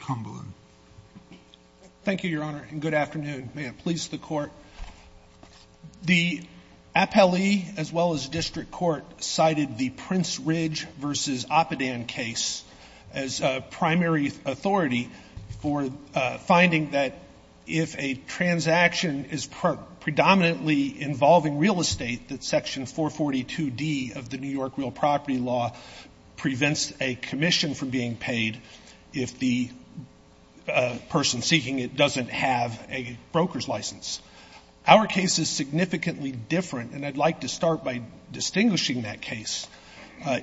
Cumberland. Thank you, Your Honor, and good afternoon. May it please the Court. The appellee, as well as district court, cited the Prince Ridge v. Oppidan case as primary authority for finding that if a transaction is predominantly involving real estate, that Section 442D of the New York Real Property Law prevents a commission from being paid if the person seeking it doesn't have a broker's license. Our case is significantly different, and I'd like to start by distinguishing that case.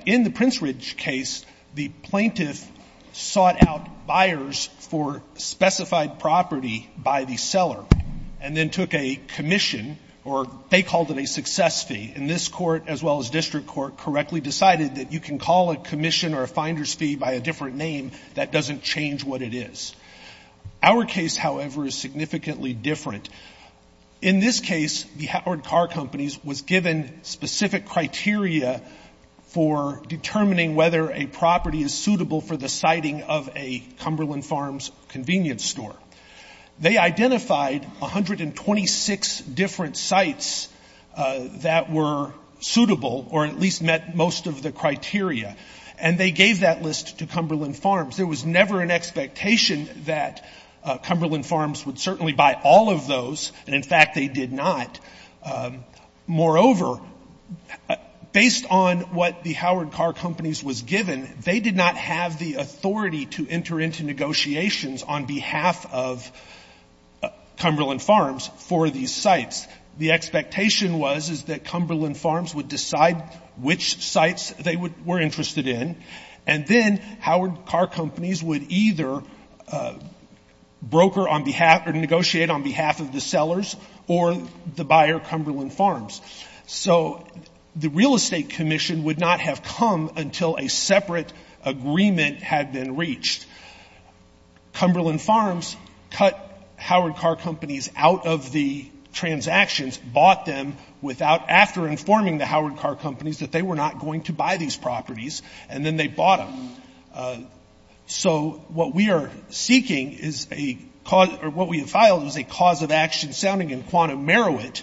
In the Prince Ridge case, the plaintiff sought out buyers for specified property by the seller and then took a commission, or they called it a success fee. And this Court, as well as district court, correctly decided that you can call a commission or a finder's fee by a different name that doesn't change what it is. Our case, however, is significantly different. In this case, the Howard Carr Companies was given specific criteria for determining whether a property is suitable for the siting of a Cumberland Farms convenience store. They identified 126 different sites that were suitable, or at least met most of the criteria, and they gave that list to Cumberland Farms. There was never an expectation that Cumberland Farms would certainly buy all of those, and, in fact, they did not. Moreover, based on what the Howard Carr Companies was given, they did not have the authority to enter into negotiations on behalf of Cumberland Farms for these sites. The expectation was is that Cumberland Farms would decide which sites they were interested in, and then Howard Carr Companies would either broker on behalf or negotiate on behalf of the sellers or the buyer, Cumberland Farms. So the real estate commission would not have come until a separate agreement had been reached. Cumberland Farms cut Howard Carr Companies out of the transactions, bought them without after informing the Howard Carr Companies that they were not going to buy these properties, and then they bought them. So what we are seeking is a cause, or what we have filed is a cause of action sounding in quantum merit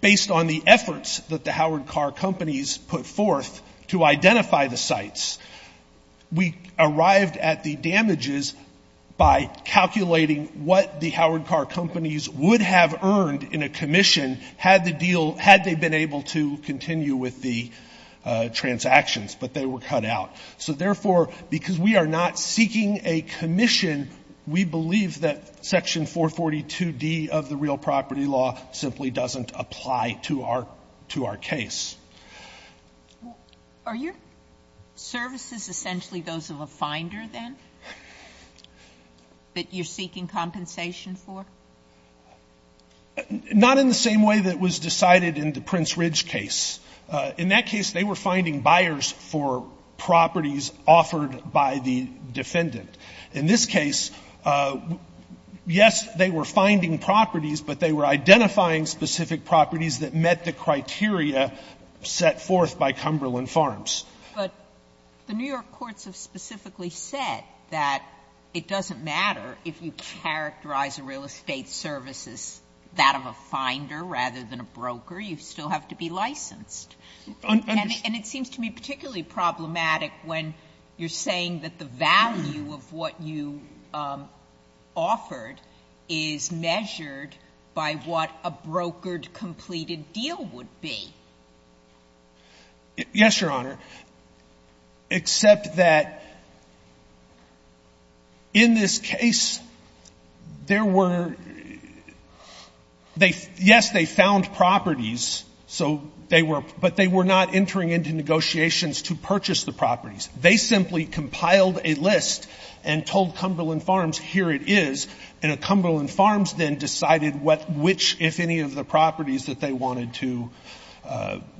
based on the efforts that the Howard Carr Companies put forth to identify the sites. We arrived at the damages by calculating what the Howard Carr Companies would have earned in a commission had the deal, had they been able to continue with the transactions, but they were cut out. So, therefore, because we are not seeking a commission, we believe that Section 442D of the real property law simply doesn't apply to our case. Sotomayor Are your services essentially those of a finder, then, that you're seeking compensation for? Fisher Not in the same way that was decided in the Prince Ridge case. In that case, they were finding buyers for properties offered by the defendant. In this case, yes, they were finding properties, but they were identifying specific properties that met the criteria set forth by Cumberland Farms. Sotomayor But the New York courts have specifically said that it doesn't matter if you characterize a real estate service as that of a finder rather than a broker. You still have to be licensed. And it seems to me particularly problematic when you're saying that the value of what you offered is measured by what a brokered, completed deal would be. Fisher Yes, Your Honor, except that in this case, there were they yes, they found properties, so they were, but they were not entering into negotiations to purchase the properties. They simply compiled a list and told Cumberland Farms, here it is, and Cumberland Farms then decided which, if any, of the properties that they wanted to,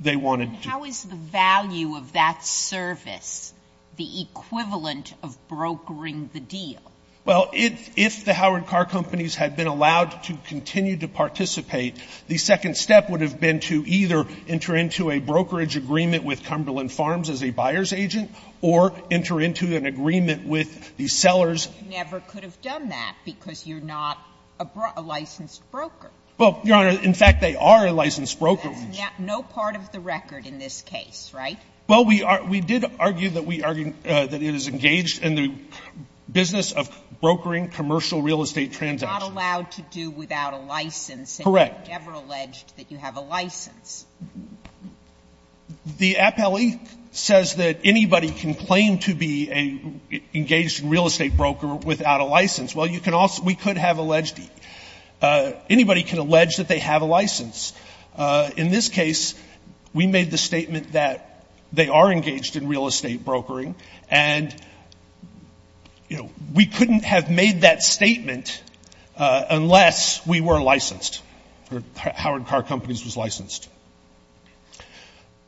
they wanted to. Sotomayor How is the value of that service the equivalent of brokering the deal? Fisher Well, if the Howard Car Companies had been allowed to continue to participate, the second step would have been to either enter into a brokerage agreement with Cumberland Farms, the buyer's agent, or enter into an agreement with the sellers. Sotomayor You never could have done that because you're not a licensed broker. Fisher Well, Your Honor, in fact, they are a licensed broker. Sotomayor That's no part of the record in this case, right? Fisher Well, we did argue that it is engaged in the business of brokering commercial real estate transactions. Sotomayor It's not allowed to do without a license. Fisher Correct. Sotomayor And you never alleged that you have a license. Fisher The appellee says that anybody can claim to be engaged in real estate brokering without a license. Well, you can also we could have alleged anybody can allege that they have a license. In this case, we made the statement that they are engaged in real estate brokering. And, you know, we couldn't have made that statement unless we were licensed, or Howard Car Companies was licensed.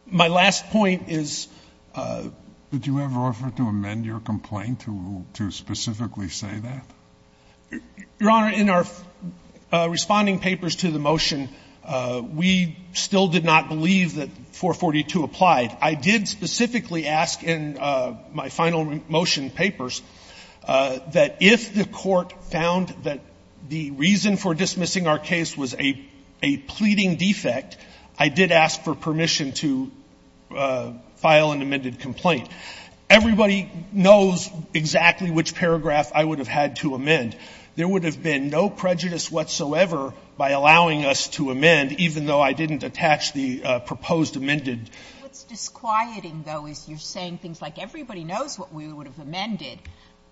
My last point is Sotomayor Did you ever offer to amend your complaint to specifically say that? Fisher Your Honor, in our responding papers to the motion, we still did not believe that 442 applied. I did specifically ask in my final motion papers that if the court found that the defect, I did ask for permission to file an amended complaint. Everybody knows exactly which paragraph I would have had to amend. There would have been no prejudice whatsoever by allowing us to amend, even though I didn't attach the proposed amended. Sotomayor What's disquieting, though, is you're saying things like, everybody knows what we would have amended,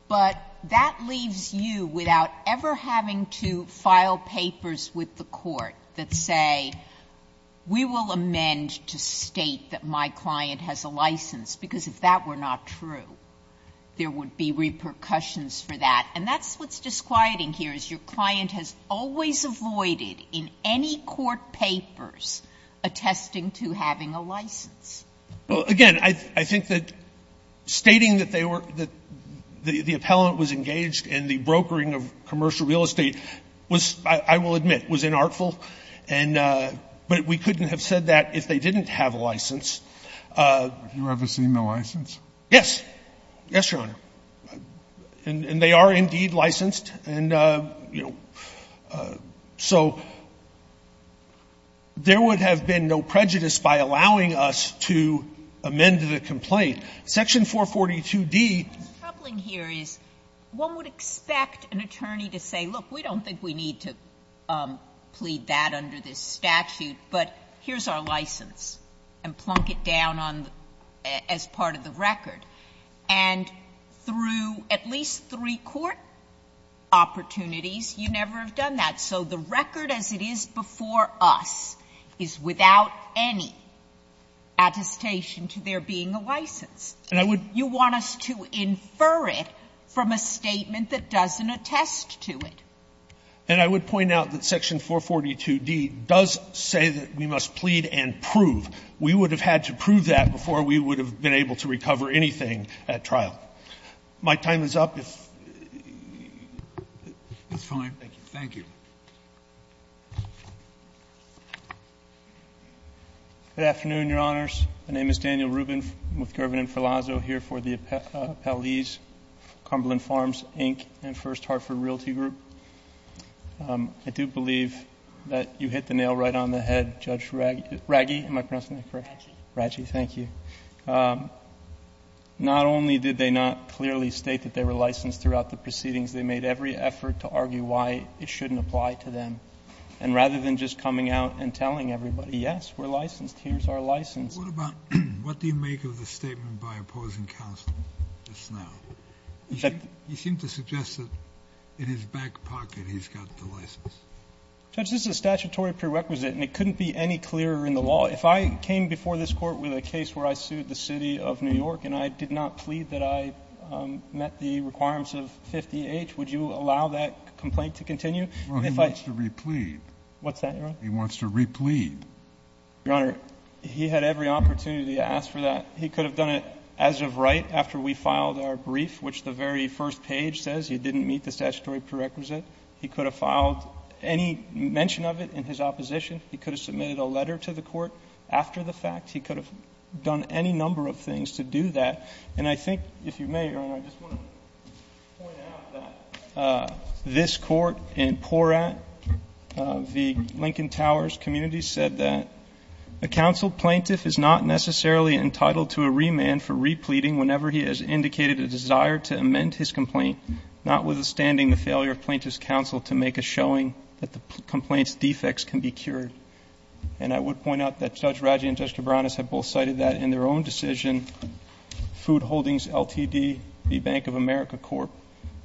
but that leaves you without ever having to file papers with the court that say, we will amend to state that my client has a license, because if that were not true, there would be repercussions for that. And that's what's disquieting here, is your client has always avoided in any court papers attesting to having a license. Fisher Well, again, I think that stating that they were the appellant was engaged in the brokering of commercial real estate was, I will admit, was inartful. And we couldn't have said that if they didn't have a license. Kennedy Have you ever seen the license? Fisher Yes. Yes, Your Honor. And they are indeed licensed. And, you know, so there would have been no prejudice by allowing us to amend the complaint. Section 442d. Sotomayor What's troubling here is one would expect an attorney to say, look, we don't think we need to plead that under this statute, but here's our license, and plunk it down on the as part of the record. And through at least three court opportunities, you never have done that. So the record as it is before us is without any attestation to there being a license. Fisher And I would Sotomayor You want us to infer it from a statement that doesn't attest to it. Fisher And I would point out that section 442d does say that we must plead and prove. We would have had to prove that before we would have been able to recover anything at trial. My time is up. If you'd like to ask a question, Mr. Gershengorn, you can do so at the end of the hearing. I do believe that you hit the nail right on the head, Judge Raggi, not only did they not clearly state that they were licensed throughout the proceedings, they made every effort to argue why it shouldn't apply to them, and rather than just coming out and telling everybody, yes, we're licensed, here's our license. Kennedy What about what do you make of the statement by opposing counsel just now? He seemed to suggest that in his back pocket he's got the license. Fisher Judge, this is a statutory prerequisite, and it couldn't be any clearer in the law. If I came before this Court with a case where I sued the City of New York and I did not plead that I met the requirements of 50H, would you allow that complaint to continue? If I Kennedy Well, he wants to replead. Fisher What's that, Your Honor? Kennedy He wants to replead. Your Honor, he had every opportunity to ask for that. He could have done it as of right after we filed our brief, which the very first page says he didn't meet the statutory prerequisite. He could have filed any mention of it in his opposition. He could have submitted a letter to the Court after the fact. He could have done any number of things to do that. And I think, if you may, Your Honor, I just want to point out that this Court in Porat, the Lincoln Towers community, said that, a counsel plaintiff is not necessarily entitled to a remand for repleting whenever he has indicated a desire to amend his complaint, notwithstanding the failure of plaintiff's counsel to make a showing that the complaint's defects can be cured. And I would point out that Judge Raggi and Judge Cabranes have both cited that in their own decision, Food Holdings Ltd., the Bank of America Corp.,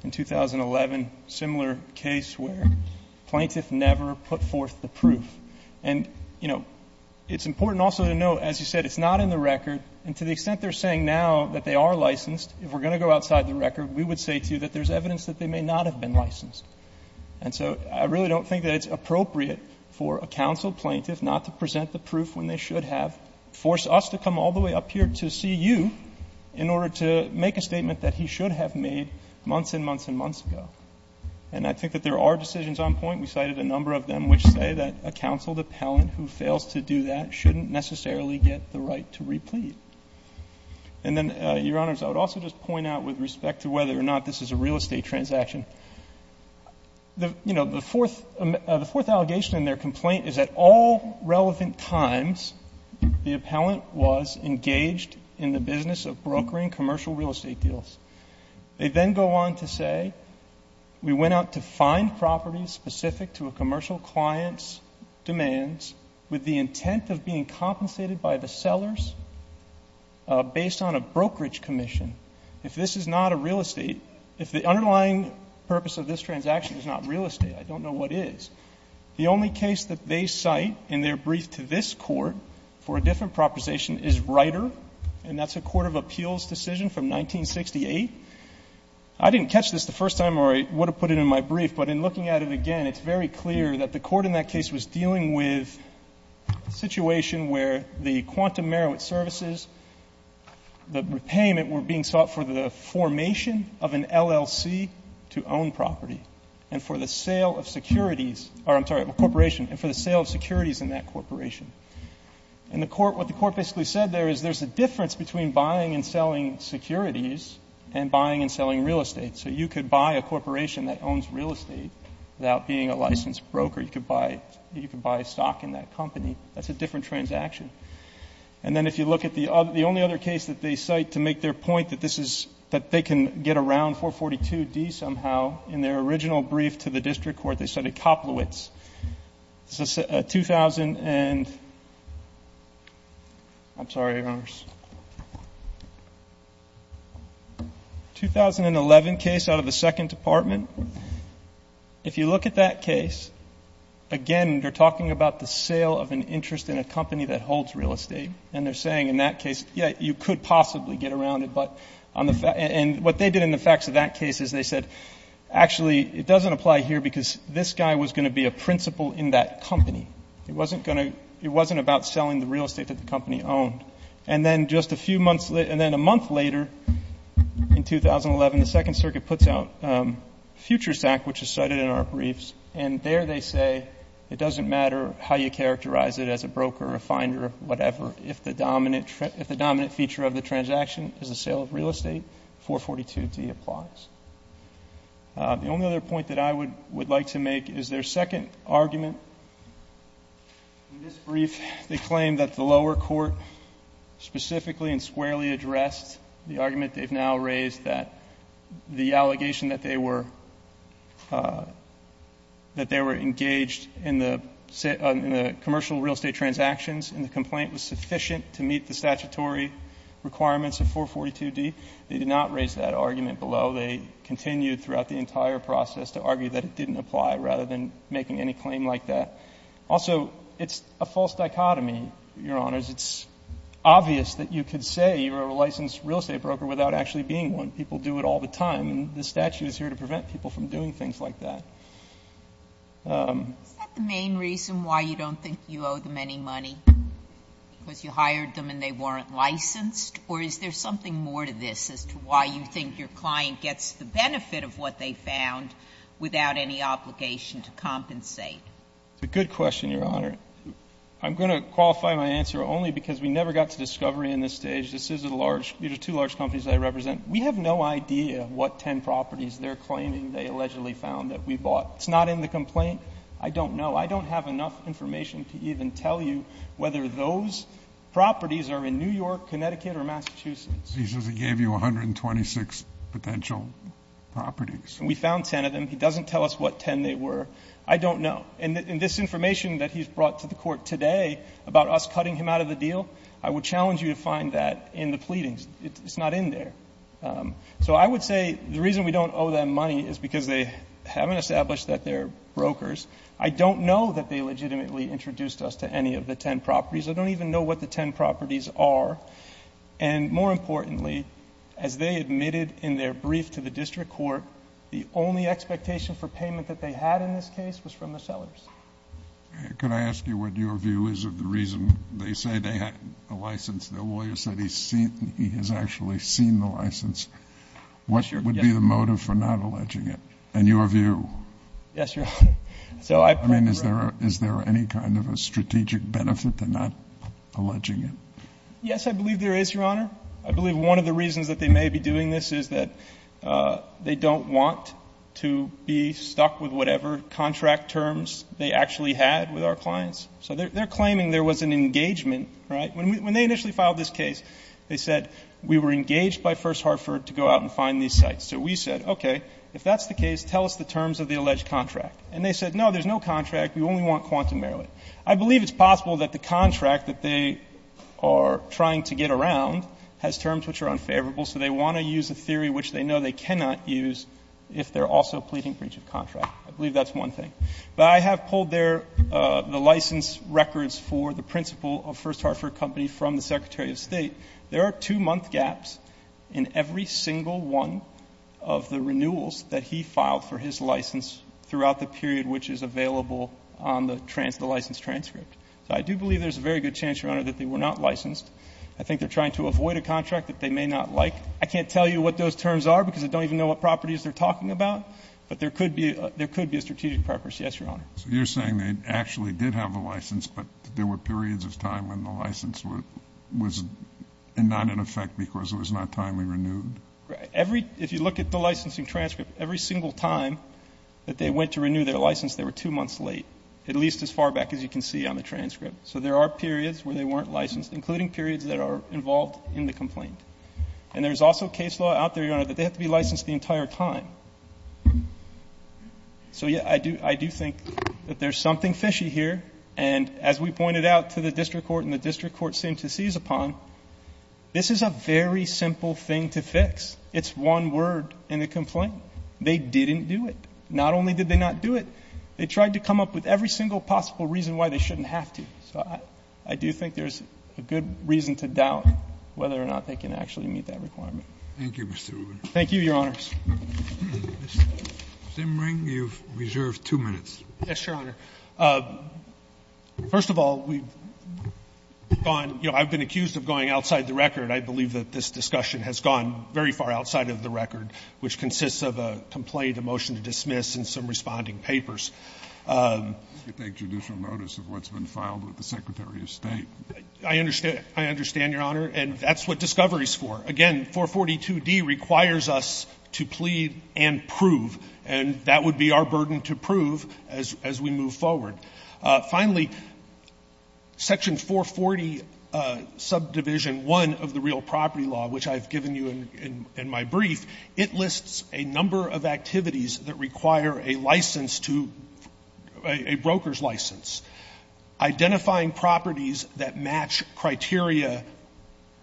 in 2011, a similar case where plaintiff never put forth the proof. And, you know, it's important also to note, as you said, it's not in the record. And to the extent they're saying now that they are licensed, if we're going to go outside the record, we would say, too, that there's evidence that they may not have been licensed. And so I really don't think that it's appropriate for a counsel plaintiff not to present the proof when they should have, force us to come all the way up here to see you in order to make a statement that he should have made months and months and months ago. And I think that there are decisions on point. We cited a number of them which say that a counseled appellant who fails to do that shouldn't necessarily get the right to replete. And then, Your Honors, I would also just point out with respect to whether or not this is a real estate transaction, the, you know, the fourth allegation in their complaint is that all relevant times the appellant was engaged in the business of brokering commercial real estate deals. They then go on to say, we went out to find properties specific to a commercial client's demands with the intent of being compensated by the sellers based on a brokerage commission. If this is not a real estate, if the underlying purpose of this transaction is not real estate, I don't know what is, the only case that they cite in their brief to this Court for a different proposition is Ryder, and that's a court of appeals decision from 1968. I didn't catch this the first time or I would have put it in my brief, but in looking at it again, it's very clear that the court in that case was dealing with a situation where the Quantum Merowith Services, the repayment were being sought for the formation of an LLC to own property and for the sale of securities, or I'm sorry, a corporation, and for the sale of securities in that corporation. And the court, what the court basically said there is there's a difference between buying and selling securities and buying and selling real estate. So you could buy a corporation that owns real estate without being a licensed broker. You could buy stock in that company. That's a different transaction. And then if you look at the only other case that they cite to make their point that this is, that they can get around 442D somehow, in their original brief to the district court, they cited Koplowitz, a 2011 case out of the second department. If you look at that case, again, they're talking about the sale of an interest in a company that holds real estate. And they're saying in that case, yeah, you could possibly get around it, but on the fact, and what they did in the facts of that case is they said, actually, it doesn't apply here because this guy was going to be a principal in that company. It wasn't going to, it wasn't about selling the real estate that the company owned. And then just a few months, and then a month later, in 2011, the Second Circuit puts out Futures Act, which is cited in our briefs, and there they say it doesn't matter how you characterize it as a broker, a finder, whatever, if the dominant feature of the transaction is the sale of real estate, 442D applies. The only other point that I would like to make is their second argument. In this brief, they claim that the lower court specifically and squarely addressed the argument they've now raised that the allegation that they were engaged in the commercial real estate transactions in the complaint was sufficient to meet the statutory requirements of 442D. They did not raise that argument below. They continued throughout the entire process to argue that it didn't apply, rather than making any claim like that. Also, it's a false dichotomy, Your Honors. It's obvious that you could say you're a licensed real estate broker without actually being one. People do it all the time, and this statute is here to prevent people from doing things like that. Sotomayor. Is that the main reason why you don't think you owe them any money? Because you hired them and they weren't licensed? Or is there something more to this as to why you think your client gets the benefit of what they found without any obligation to compensate? It's a good question, Your Honor. I'm going to qualify my answer only because we never got to discovery in this stage. This is a large – these are two large companies I represent. We have no idea what 10 properties they're claiming they allegedly found that we bought. It's not in the complaint. I don't know. I don't have enough information to even tell you whether those properties are in New York or Massachusetts. He says he gave you 126 potential properties. We found 10 of them. He doesn't tell us what 10 they were. I don't know. And this information that he's brought to the Court today about us cutting him out of the deal, I would challenge you to find that in the pleadings. It's not in there. So I would say the reason we don't owe them money is because they haven't established that they're brokers. I don't know that they legitimately introduced us to any of the 10 properties. I don't even know what the 10 properties are. And more importantly, as they admitted in their brief to the district court, the only expectation for payment that they had in this case was from the sellers. Can I ask you what your view is of the reason they say they had a license? The lawyer said he's seen – he has actually seen the license. What would be the motive for not alleging it? And your view? Yes, Your Honor. So I – I mean, is there any kind of a strategic benefit to not alleging it? Yes, I believe there is, Your Honor. I believe one of the reasons that they may be doing this is that they don't want to be stuck with whatever contract terms they actually had with our clients. So they're claiming there was an engagement, right? When they initially filed this case, they said we were engaged by First Hartford to go out and find these sites. So we said, okay, if that's the case, tell us the terms of the alleged contract. And they said, no, there's no contract. We only want Quantum Merrillet. I believe it's possible that the contract that they are trying to get around has terms which are unfavorable, so they want to use a theory which they know they cannot use if they're also pleading breach of contract. I believe that's one thing. But I have pulled their – the license records for the principal of First Hartford Company from the Secretary of State. There are two-month gaps in every single one of the renewals that he filed for his on the license transcript. So I do believe there's a very good chance, Your Honor, that they were not licensed. I think they're trying to avoid a contract that they may not like. I can't tell you what those terms are because I don't even know what properties they're talking about. But there could be a strategic purpose. Yes, Your Honor. So you're saying they actually did have a license, but there were periods of time when the license was not in effect because it was not timely renewed? Every – if you look at the licensing transcript, every single time that they went to renew their license, they were two months late, at least as far back as you can see on the transcript. So there are periods where they weren't licensed, including periods that are involved in the complaint. And there's also case law out there, Your Honor, that they have to be licensed the entire time. So, yeah, I do think that there's something fishy here. And as we pointed out to the district court and the district court seemed to seize upon, this is a very simple thing to fix. It's one word in the complaint. They didn't do it. Not only did they not do it, they tried to come up with every single possible reason why they shouldn't have to. So I do think there's a good reason to doubt whether or not they can actually meet that requirement. Thank you, Mr. Rubin. Thank you, Your Honors. Mr. Simring, you've reserved two minutes. Yes, Your Honor. First of all, we've gone – you know, I've been accused of going outside the record. I believe that this discussion has gone very far outside of the record, which consists of a complaint, a motion to dismiss, and some responding papers. You take judicial notice of what's been filed with the Secretary of State. I understand, Your Honor. And that's what discovery is for. Again, 442D requires us to plead and prove. And that would be our burden to prove as we move forward. Finally, Section 440, Subdivision 1 of the Real Property Law, which I've given you in my brief, it lists a number of activities that require a license to – a broker's license. Identifying properties that match criteria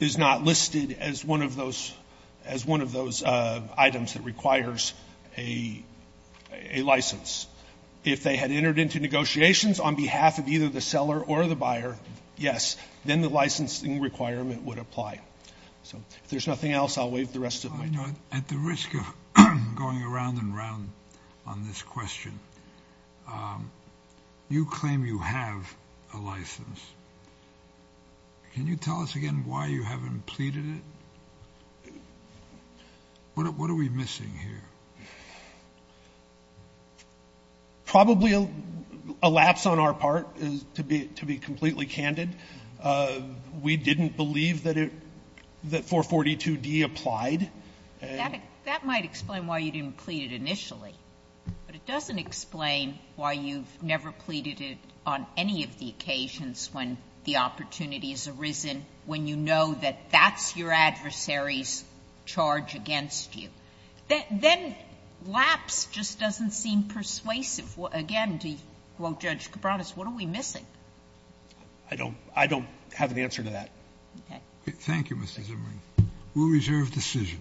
is not listed as one of those – as one of those items that requires a license. If they had entered into negotiations on behalf of either the seller or the buyer, yes, then the licensing requirement would apply. So if there's nothing else, I'll waive the rest of my time. At the risk of going around and around on this question, you claim you have a license. Can you tell us again why you haven't pleaded it? What are we missing here? Probably a lapse on our part, to be completely candid. We didn't believe that it – that 442D applied. That might explain why you didn't plead it initially, but it doesn't explain why you've never pleaded it on any of the occasions when the opportunity has arisen, when you know that that's your adversary's charge against you. Then lapse just doesn't seem persuasive. Again, to quote Judge Cabranes, what are we missing? I don't have an answer to that. Okay. Thank you, Mr. Zimmerman. We'll reserve decision.